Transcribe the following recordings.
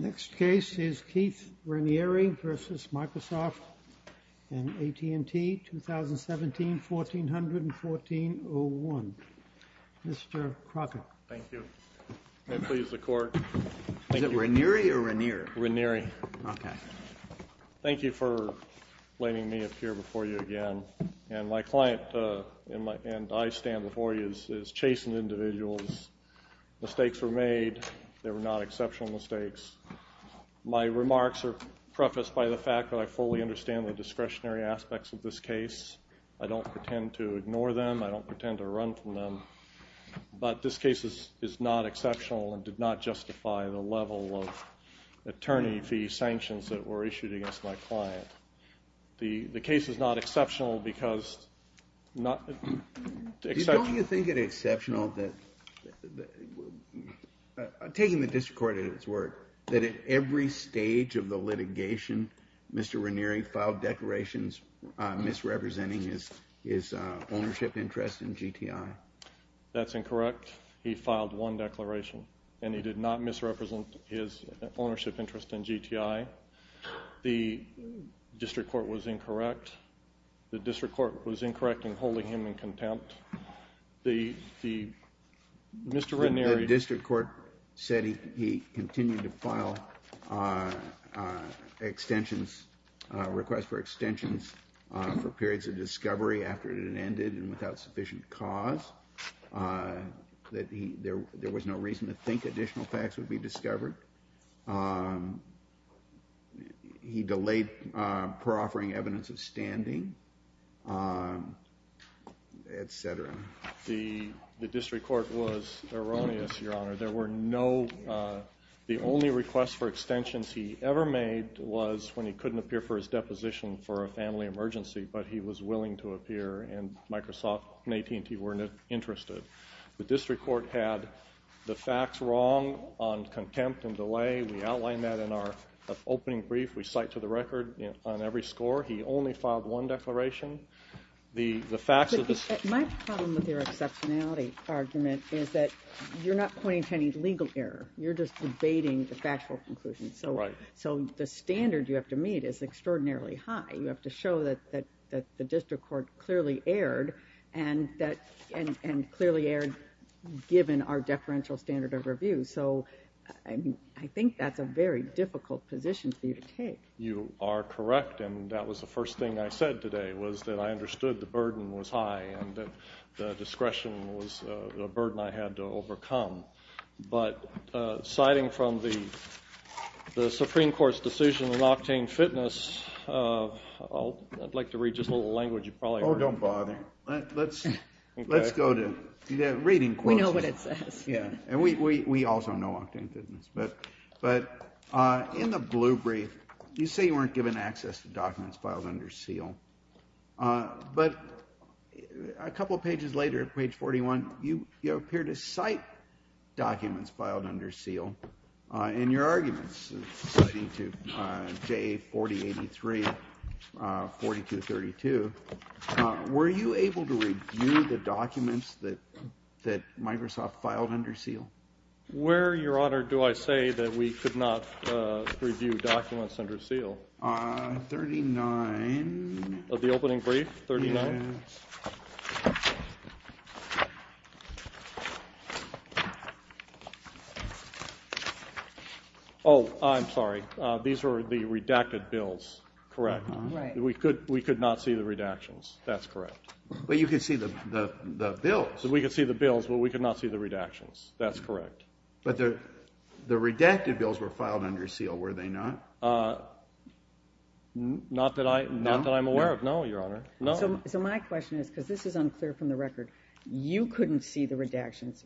Next case is Keith Raniere v. Microsoft and AT&T, 2017, 1400 and 1401. Mr. Crockett. Thank you. May it please the Court. Is it Raniere or Raniere? Raniere. Okay. Thank you for letting me appear before you again. And my client and I stand before you as chastened individuals. Mistakes were made. They were not exceptional mistakes. My remarks are prefaced by the fact that I fully understand the discretionary aspects of this case. I don't pretend to ignore them. I don't pretend to run from them. But this case is not exceptional and did not justify the level of attorney fee sanctions that were issued against my client. The case is not exceptional because... Don't you think it exceptional that, taking the district court at its word, that at every stage of the litigation, Mr. Raniere filed declarations misrepresenting his ownership interest in GTI? That's incorrect. He filed one declaration, and he did not misrepresent his ownership interest in GTI. The district court was incorrect. I'm holding him in contempt. Mr. Raniere. The district court said he continued to file extensions, request for extensions, for periods of discovery after it had ended and without sufficient cause. There was no reason to think additional facts would be discovered. He delayed proffering evidence of standing, et cetera. The district court was erroneous, Your Honor. There were no... The only request for extensions he ever made was when he couldn't appear for his deposition for a family emergency, but he was willing to appear and Microsoft and AT&T were interested. The district court had the facts wrong on contempt and delay. We outlined that in our opening brief. We cite to the record on every score. He only filed one declaration. The facts of the... My problem with your exceptionality argument is that you're not pointing to any legal error. You're just debating the factual conclusion. Right. So the standard you have to meet is extraordinarily high. You have to show that the district court clearly erred and clearly erred given our deferential standard of review, so I think that's a very difficult position for you to take. You are correct, and that was the first thing I said today was that I understood the burden was high and that the discretion was a burden I had to overcome. But citing from the Supreme Court's decision in Octane Fitness, I'd like to read just a little language you probably already know. Oh, don't bother. Let's go to reading quotes. We know what it says. Yeah, and we also know Octane Fitness, but in the blue brief, you say you weren't given access to documents filed under seal, but a couple of pages later, page 41, you appear to cite documents filed under seal in your arguments citing to J4083, 4232. Were you able to review the documents that Microsoft filed under seal? Where, Your Honor, do I say that we could not review documents under seal? 39. Of the opening brief, 39? Yes. Oh, I'm sorry. These were the redacted bills, correct? Right. We could not see the redactions. That's correct. But you could see the bills. We could see the bills, but we could not see the redactions. That's correct. But the redacted bills were filed under seal, were they not? Not that I'm aware of, no, Your Honor. So my question is, because this is unclear from the record, you couldn't see the redactions.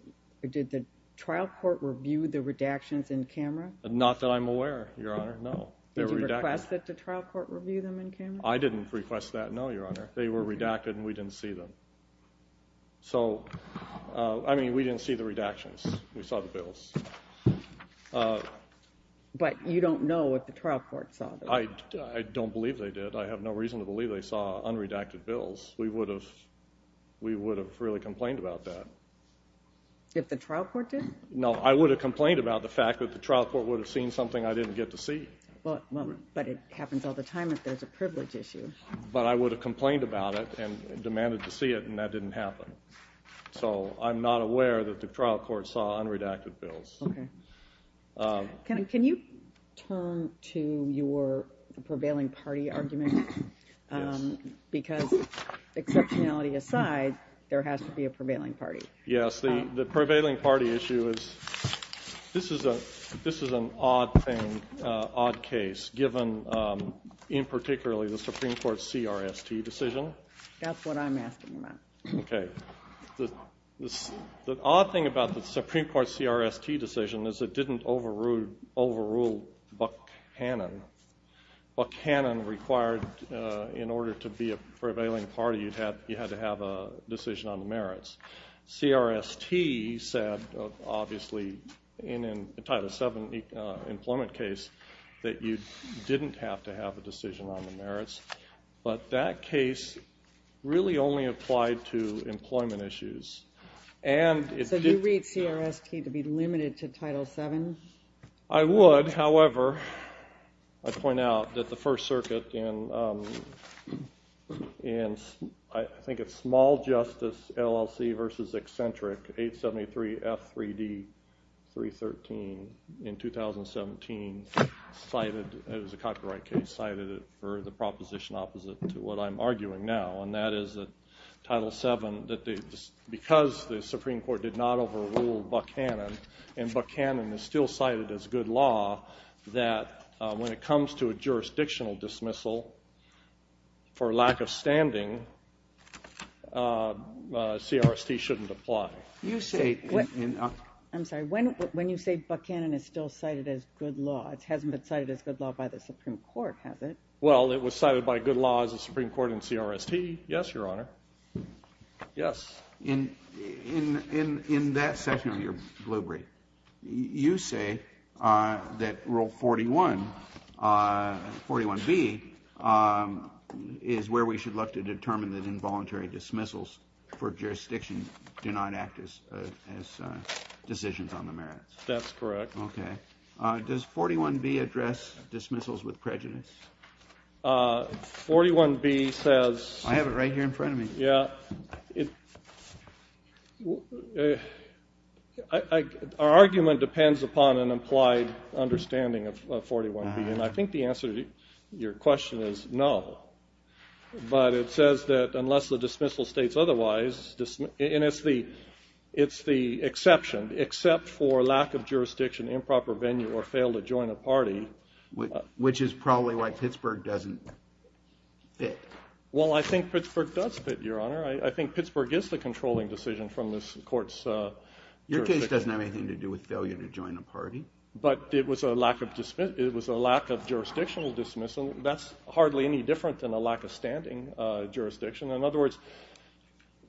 Did the trial court review the redactions in camera? Not that I'm aware of, Your Honor, no. Did you request that the trial court review them in camera? I didn't request that, no, Your Honor. They were redacted, and we didn't see them. So, I mean, we didn't see the redactions. We saw the bills. But you don't know if the trial court saw them. I don't believe they did. I have no reason to believe they saw unredacted bills. We would have really complained about that. If the trial court did? No, I would have complained about the fact that the trial court would have seen something I didn't get to see. But it happens all the time if there's a privilege issue. But I would have complained about it and demanded to see it, and that didn't happen. So I'm not aware that the trial court saw unredacted bills. Okay. Can you turn to your prevailing party argument? Yes. Because, exceptionality aside, there has to be a prevailing party. Yes. The prevailing party issue is this is an odd thing, odd case, given in particularly the Supreme Court's CRST decision. That's what I'm asking about. Okay. The odd thing about the Supreme Court's CRST decision is it didn't overrule Buchanan. Buchanan required in order to be a prevailing party you had to have a decision on the merits. CRST said, obviously, in a Title VII employment case, that you didn't have to have a decision on the merits. But that case really only applied to employment issues. So you read CRST to be limited to Title VII? I would. However, I'd point out that the First Circuit in, I think it's Small Justice LLC v. Eccentric, 873 F3D 313, in 2017, cited, it was a copyright case, cited it for the proposition opposite to what I'm arguing now. And that is that Title VII, because the Supreme Court did not overrule Buchanan, and Buchanan is still cited as good law, that when it comes to a jurisdictional dismissal for lack of standing, CRST shouldn't apply. I'm sorry. When you say Buchanan is still cited as good law, it hasn't been cited as good law by the Supreme Court, has it? Well, it was cited by good law as a Supreme Court in CRST. Yes, Your Honor. Yes. In that section of your bluebrief, you say that Rule 41, 41B, is where we should look to determine that involuntary dismissals for jurisdiction do not act as decisions on the merits. That's correct. Okay. Does 41B address dismissals with prejudice? 41B says- I have it right here in front of me. Yeah. Our argument depends upon an implied understanding of 41B, and I think the answer to your question is no. But it says that unless the dismissal states otherwise, and it's the exception, except for lack of jurisdiction, improper venue, or fail to join a party- Which is probably why Pittsburgh doesn't fit. Well, I think Pittsburgh does fit, Your Honor. I think Pittsburgh is the controlling decision from this court's jurisdiction. Your case doesn't have anything to do with failure to join a party. But it was a lack of jurisdictional dismissal. That's hardly any different than a lack of standing jurisdiction. In other words,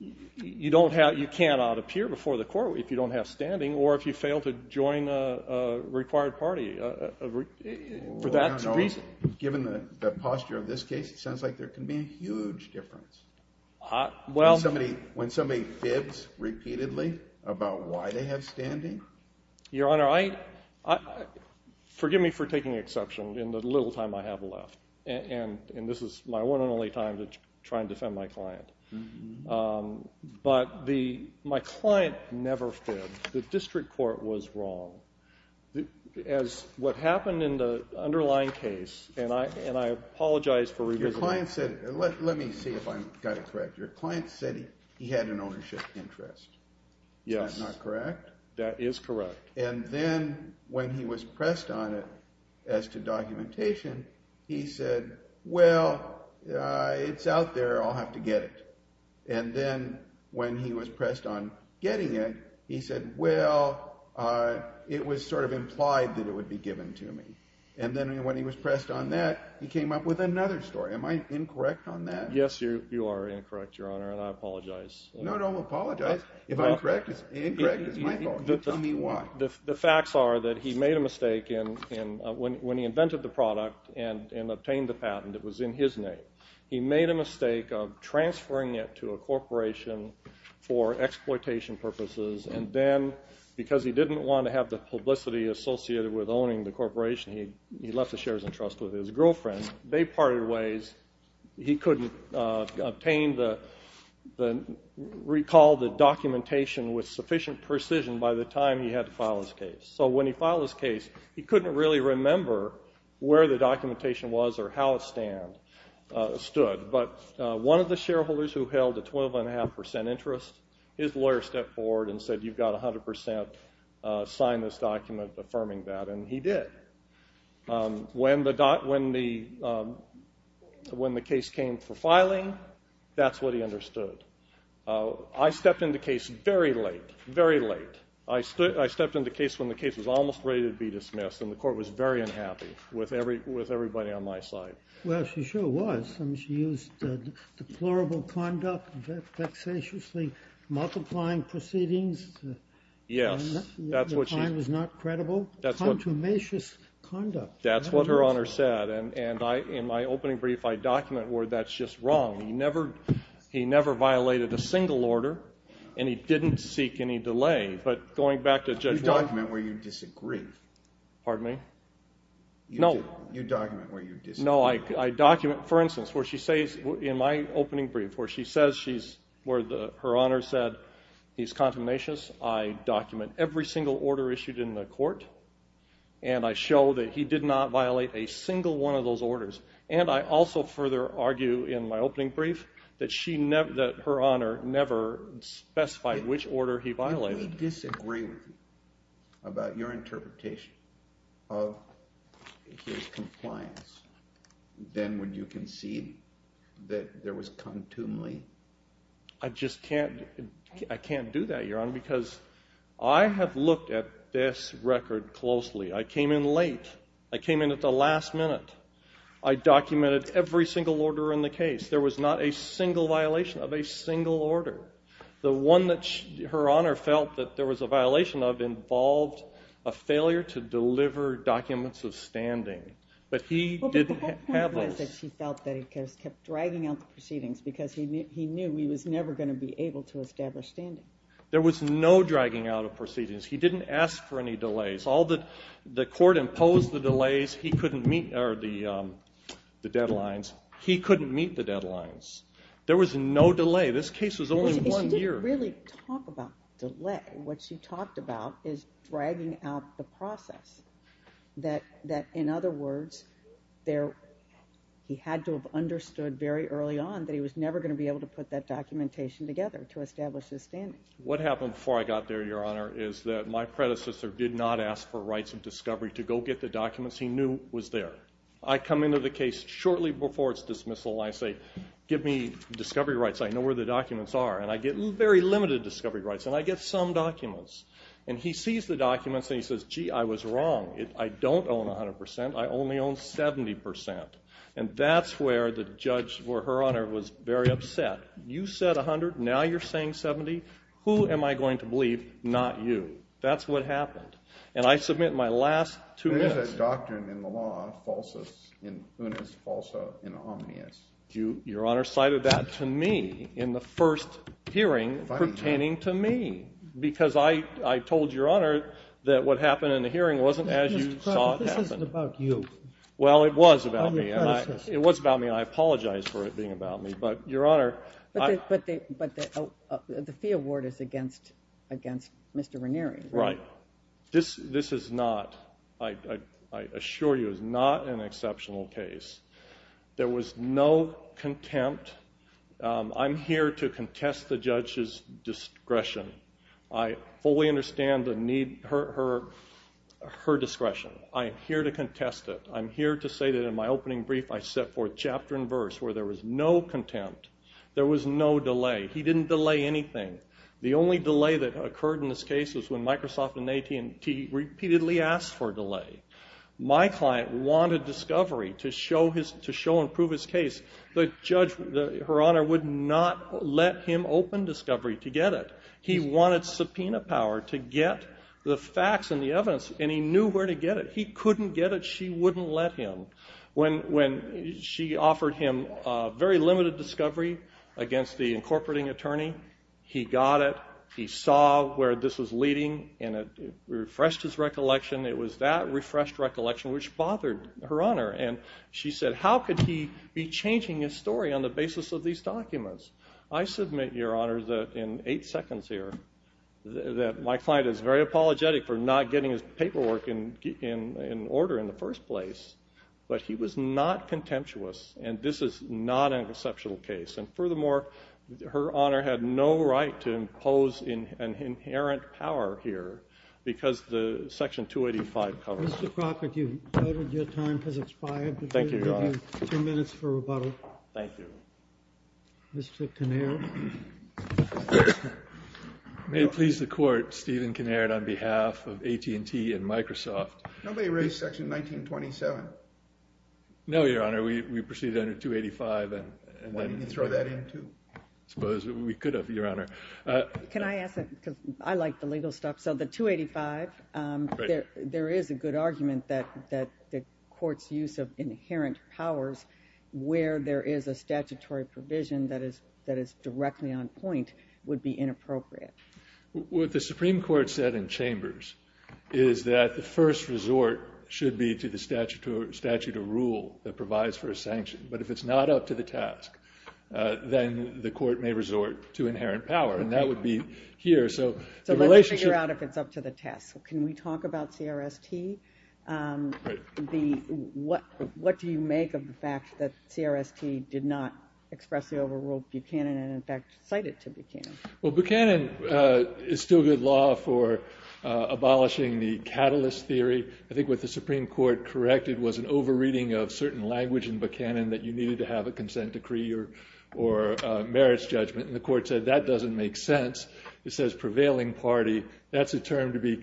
you cannot appear before the court if you don't have standing or if you fail to join a required party for that reason. Given the posture of this case, it sounds like there can be a huge difference when somebody fits repeatedly about why they have standing. Your Honor, forgive me for taking exception in the little time I have left, and this is my one and only time to try and defend my client. But my client never fit. The district court was wrong. As what happened in the underlying case, and I apologize for- Your client said- let me see if I got it correct. Your client said he had an ownership interest. Yes. Is that not correct? That is correct. And then when he was pressed on it as to documentation, he said, well, it's out there. I'll have to get it. And then when he was pressed on getting it, he said, well, it was sort of implied that it would be given to me. And then when he was pressed on that, he came up with another story. Am I incorrect on that? Yes, you are incorrect, Your Honor, and I apologize. No, don't apologize. If I'm incorrect, it's my fault. Tell me why. The facts are that he made a mistake when he invented the product and obtained the patent. It was in his name. He made a mistake of transferring it to a corporation for exploitation purposes, and then because he didn't want to have the publicity associated with owning the corporation, he left the shares in trust with his girlfriend. They parted ways. He couldn't obtain the- recall the documentation with sufficient precision by the time he had to file his case. So when he filed his case, he couldn't really remember where the documentation was or how it stood. But one of the shareholders who held a 12.5% interest, his lawyer stepped forward and said, you've got 100% sign this document affirming that, and he did. When the case came for filing, that's what he understood. I stepped in the case very late, very late. I stepped in the case when the case was almost ready to be dismissed, and the court was very unhappy with everybody on my side. Well, she sure was. I mean, she used deplorable conduct, vexatiously multiplying proceedings. Yes, that's what she- The time was not credible. That's what- Contumacious conduct. That's what Her Honor said, and in my opening brief, I document where that's just wrong. He never violated a single order, and he didn't seek any delay. But going back to Judge- You document where you disagree. Pardon me? No. You document where you disagree. No, I document, for instance, where she says in my opening brief, where she says she's- where Her Honor said he's contumacious, I document every single order issued in the court, and I show that he did not violate a single one of those orders. And I also further argue in my opening brief that she never- that Her Honor never specified which order he violated. If you disagree about your interpretation of his compliance, then would you concede that there was contumely- I just can't- I can't do that, Your Honor, because I have looked at this record closely. I came in late. I came in at the last minute. I documented every single order in the case. There was not a single violation of a single order. The one that Her Honor felt that there was a violation of involved a failure to deliver documents of standing, but he didn't have those. Well, but the whole point was that he felt that he kept dragging out the proceedings because he knew he was never going to be able to establish standing. There was no dragging out of proceedings. He didn't ask for any delays. All the- the court imposed the delays. He couldn't meet the deadlines. He couldn't meet the deadlines. There was no delay. This case was only one year. He didn't really talk about delay. What she talked about is dragging out the process, that, in other words, he had to have understood very early on that he was never going to be able to put that documentation together to establish his standing. What happened before I got there, Your Honor, is that my predecessor did not ask for rights of discovery to go get the documents he knew was there. I come into the case shortly before its dismissal. I say, Give me discovery rights. I know where the documents are. And I get very limited discovery rights. And I get some documents. And he sees the documents and he says, Gee, I was wrong. I don't own 100%. I only own 70%. And that's where the judge or Her Honor was very upset. You said 100. Now you're saying 70. Who am I going to believe? Not you. That's what happened. And I submit my last two minutes. There is a doctrine in the law, falsus in unis, falso in omnius. Your Honor cited that to me in the first hearing pertaining to me. Because I told Your Honor that what happened in the hearing wasn't as you saw it happen. This isn't about you. Well, it was about me. It was about me. I apologize for it being about me. But the fee award is against Mr. Ranieri, right? Right. This is not, I assure you, is not an exceptional case. There was no contempt. I'm here to contest the judge's discretion. I fully understand her discretion. I am here to contest it. I'm here to say that in my opening brief I set forth chapter and verse where there was no contempt. There was no delay. He didn't delay anything. The only delay that occurred in this case was when Microsoft and AT&T repeatedly asked for a delay. My client wanted discovery to show and prove his case. The judge, Her Honor, would not let him open discovery to get it. He wanted subpoena power to get the facts and the evidence, and he knew where to get it. He couldn't get it. But she wouldn't let him. When she offered him very limited discovery against the incorporating attorney, he got it. He saw where this was leading, and it refreshed his recollection. It was that refreshed recollection which bothered Her Honor. And she said, how could he be changing his story on the basis of these documents? I submit, Your Honor, that in eight seconds here that my client is very apologetic for not getting his paperwork in order in the first place. But he was not contemptuous, and this is not an exceptional case. And furthermore, Her Honor had no right to impose an inherent power here because the Section 285 covers it. Mr. Crockett, you've noted your time has expired. Thank you, Your Honor. We'll give you two minutes for rebuttal. Thank you. Mr. Kinnaird? May it please the Court, Stephen Kinnaird on behalf of AT&T and Microsoft. Nobody raised Section 1927. No, Your Honor. We proceeded under 285. Why didn't you throw that in, too? I suppose we could have, Your Honor. Can I ask a question? I like the legal stuff. So the 285, there is a good argument that the Court's use of inherent powers where there is a statutory provision that is directly on point would be inappropriate. What the Supreme Court said in chambers is that the first resort should be to the statute of rule that provides for a sanction. But if it's not up to the task, then the Court may resort to inherent power, and that would be here. So let's figure out if it's up to the task. Can we talk about CRST? What do you make of the fact that CRST did not expressly overrule Buchanan and, in fact, cite it to Buchanan? Well, Buchanan is still good law for abolishing the catalyst theory. I think what the Supreme Court corrected was an over-reading of certain language in Buchanan that you needed to have a consent decree or merits judgment. And the Court said that doesn't make sense. It says prevailing party. That's a term to be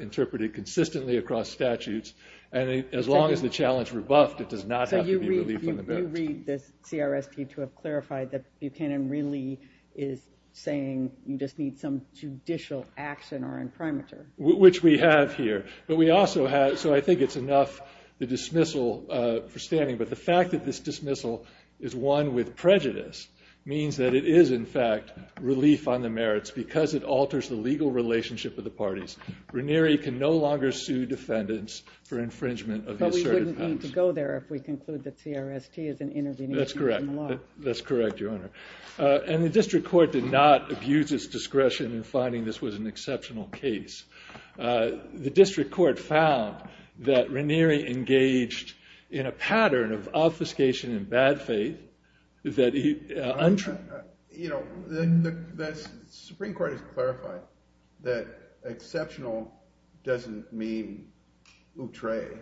interpreted consistently across statutes. And as long as the challenge rebuffed, it does not have to be relief on the merits. So you read this CRST to have clarified that Buchanan really is saying you just need some judicial action or imprimatur. Which we have here. So I think it's enough, the dismissal, for standing. But the fact that this dismissal is one with prejudice means that it is, in fact, relief on the merits. Because it alters the legal relationship of the parties. Ranieri can no longer sue defendants for infringement of the asserted powers. But we wouldn't need to go there if we conclude that CRST is an intervention in law. That's correct. That's correct, Your Honor. And the district court did not abuse its discretion in finding this was an exceptional case. The district court found that Ranieri engaged in a pattern of obfuscation and bad faith. The Supreme Court has clarified that exceptional doesn't mean outre.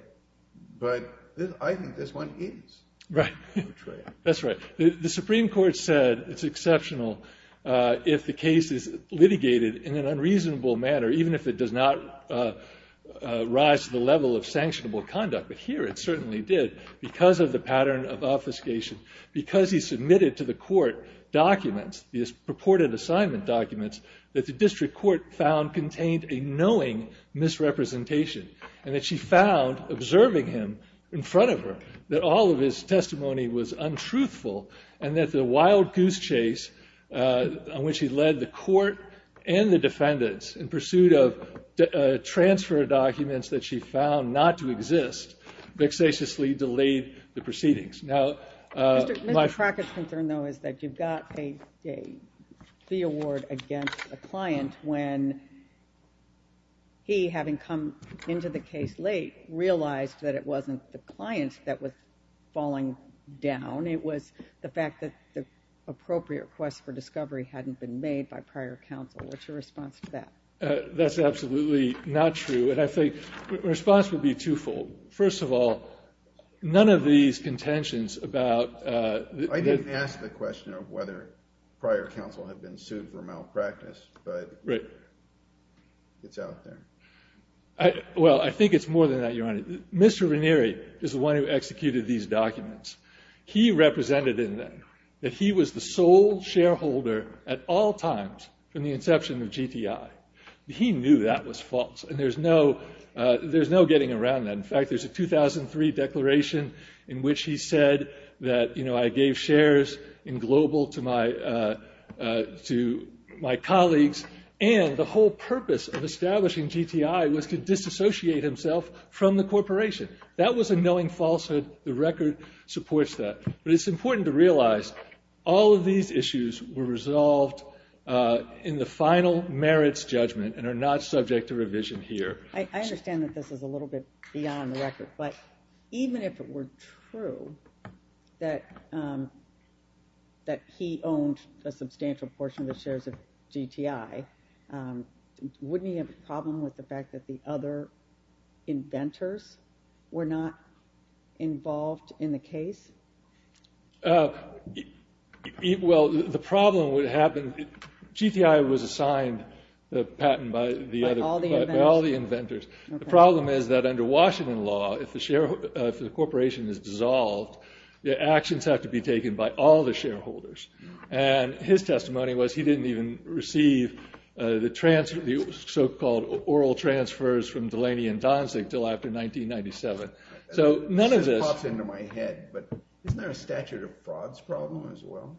But I think this one is outre. That's right. The Supreme Court said it's exceptional if the case is litigated in an unreasonable manner. Even if it does not rise to the level of sanctionable conduct. But here it certainly did. Because of the pattern of obfuscation. Because he submitted to the court documents, these purported assignment documents, that the district court found contained a knowing misrepresentation. And that she found, observing him in front of her, that all of his testimony was untruthful. And that the wild goose chase on which he led the court and the defendants in pursuit of transfer documents that she found not to exist, vexatiously delayed the proceedings. Mr. Crackett's concern, though, is that you've got a fee award against a client when he, having come into the case late, realized that it wasn't the client that was falling down. It was the fact that the appropriate request for discovery hadn't been made by prior counsel. What's your response to that? That's absolutely not true. And I think the response would be twofold. First of all, none of these contentions about... I didn't ask the question of whether prior counsel had been sued for malpractice. But it's out there. Well, I think it's more than that, Your Honor. Mr. Ranieri is the one who executed these documents. He represented in them that he was the sole shareholder at all times from the inception of GTI. He knew that was false. And there's no getting around that. In fact, there's a 2003 declaration in which he said that, you know, I gave shares in Global to my colleagues, and the whole purpose of establishing GTI was to disassociate himself from the corporation. That was a knowing falsehood. The record supports that. But it's important to realize all of these issues were resolved in the final merits judgment and are not subject to revision here. I understand that this is a little bit beyond the record. But even if it were true that he owned a substantial portion of the shares of GTI, wouldn't he have a problem with the fact that the other inventors were not involved in the case? Well, the problem would happen... GTI was assigned the patent by all the inventors. The problem is that under Washington law, if the corporation is dissolved, the actions have to be taken by all the shareholders. And his testimony was he didn't even receive the so-called oral transfers from Delaney and Donzig until after 1997. So none of this... This pops into my head, but isn't there a statute of frauds problem as well?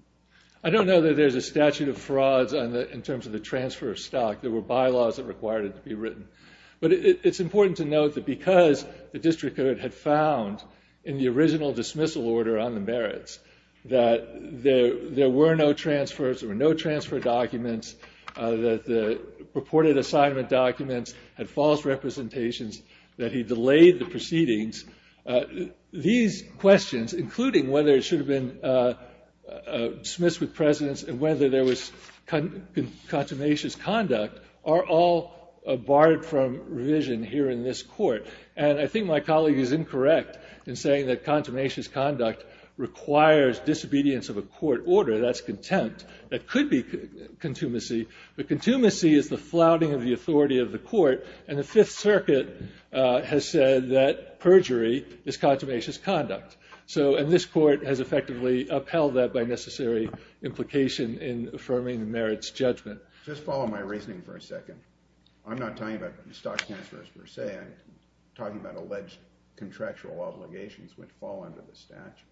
I don't know that there's a statute of frauds in terms of the transfer of stock. There were bylaws that required it to be written. But it's important to note that because the district had found in the original dismissal order on the merits that there were no transfers, there were no transfer documents, that the purported assignment documents had false representations, that he delayed the proceedings. These questions, including whether it should have been dismissed with precedence and whether there was contumacious conduct, are all barred from revision here in this court. And I think my colleague is incorrect in saying that contumacious conduct requires disobedience of a court order. That's contempt. That could be contumacy. But contumacy is the flouting of the authority of the court. And the Fifth Circuit has said that perjury is contumacious conduct. And this court has effectively upheld that by necessary implication in affirming the merits judgment. Just follow my reasoning for a second. I'm not talking about stock transfers per se. I'm talking about alleged contractual obligations which fall under the statute.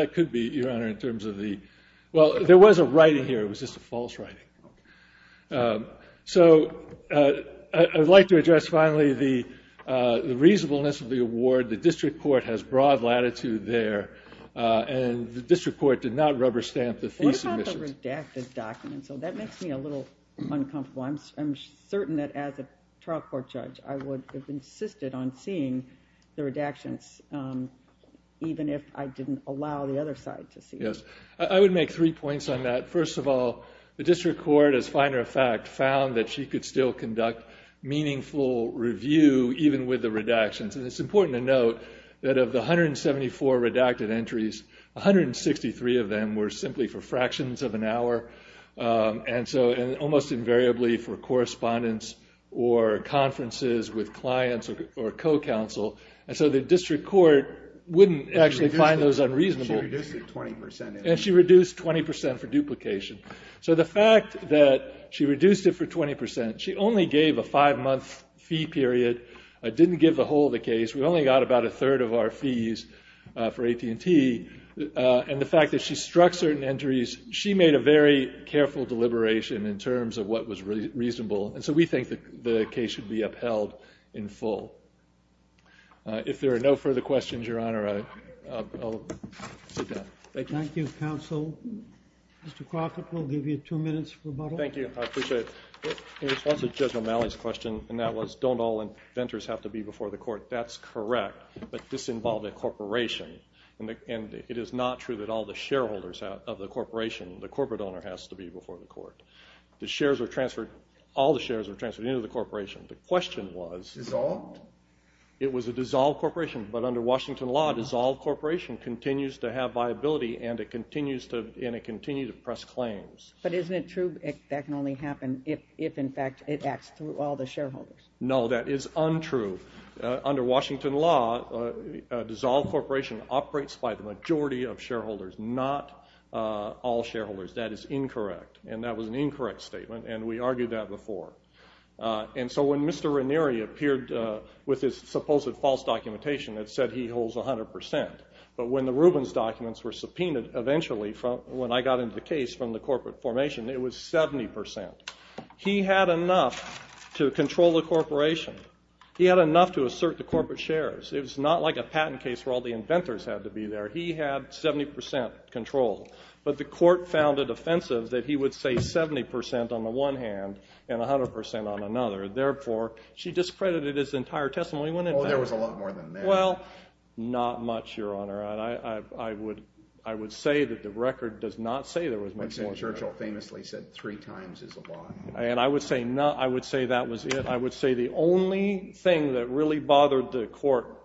That could be, Your Honor, in terms of the – well, there was a right in here. It was just a false right. So I would like to address finally the reasonableness of the award. The district court has broad latitude there, and the district court did not rubber stamp the thesis. What about the redacted documents? That makes me a little uncomfortable. I'm certain that as a trial court judge, I would have insisted on seeing the redactions, even if I didn't allow the other side to see them. I would make three points on that. First of all, the district court, as a finer fact, found that she could still conduct meaningful review, even with the redactions. And it's important to note that of the 174 redacted entries, 163 of them were simply for fractions of an hour, and almost invariably for correspondence or conferences with clients or co-counsel. And so the district court wouldn't actually find those unreasonable. And she reduced 20% for duplication. So the fact that she reduced it for 20%, she only gave a five-month fee period, didn't give the whole of the case. We only got about a third of our fees for AT&T. And the fact that she struck certain entries, she made a very careful deliberation in terms of what was reasonable. And so we think the case should be upheld in full. If there are no further questions, Your Honor, I'll sit down. Thank you. Thank you, counsel. Mr. Crockett, we'll give you two minutes for rebuttal. Thank you. I appreciate it. In response to Judge O'Malley's question, and that was don't all inventors have to be before the court, that's correct. But this involved a corporation. And it is not true that all the shareholders of the corporation, the corporate owner, has to be before the court. The shares were transferred. All the shares were transferred into the corporation. The question was. Dissolved? It was a dissolved corporation. But under Washington law, a dissolved corporation continues to have viability, and it continues to press claims. But isn't it true that that can only happen if, in fact, it acts through all the shareholders? No, that is untrue. Under Washington law, a dissolved corporation operates by the majority of shareholders, not all shareholders. That is incorrect. And that was an incorrect statement, and we argued that before. And so when Mr. Ranieri appeared with his supposed false documentation, it said he holds 100 percent. But when the Rubens documents were subpoenaed, eventually, when I got into the case from the corporate formation, it was 70 percent. He had enough to control the corporation. He had enough to assert the corporate shares. It was not like a patent case where all the inventors had to be there. He had 70 percent control. But the court found it offensive that he would say 70 percent on the one hand and 100 percent on another. Therefore, she discredited his entire testimony. Oh, there was a lot more than that. Well, not much, Your Honor. I would say that the record does not say there was much more than that. Churchill famously said three times is a lie. And I would say that was it. I would say the only thing that really bothered the court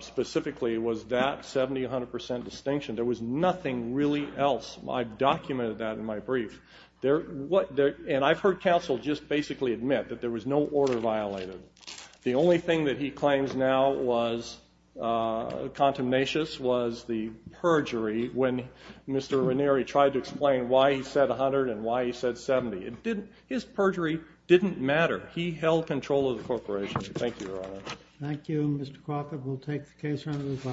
specifically was that 70-100 percent distinction. There was nothing really else. I've documented that in my brief. And I've heard counsel just basically admit that there was no order violated. The only thing that he claims now was contemnatious was the perjury when Mr. Ranieri tried to explain why he said 100 and why he said 70. His perjury didn't matter. He held control of the corporation. Thank you, Your Honor. Thank you, Mr. Crockett. We'll take the case under review.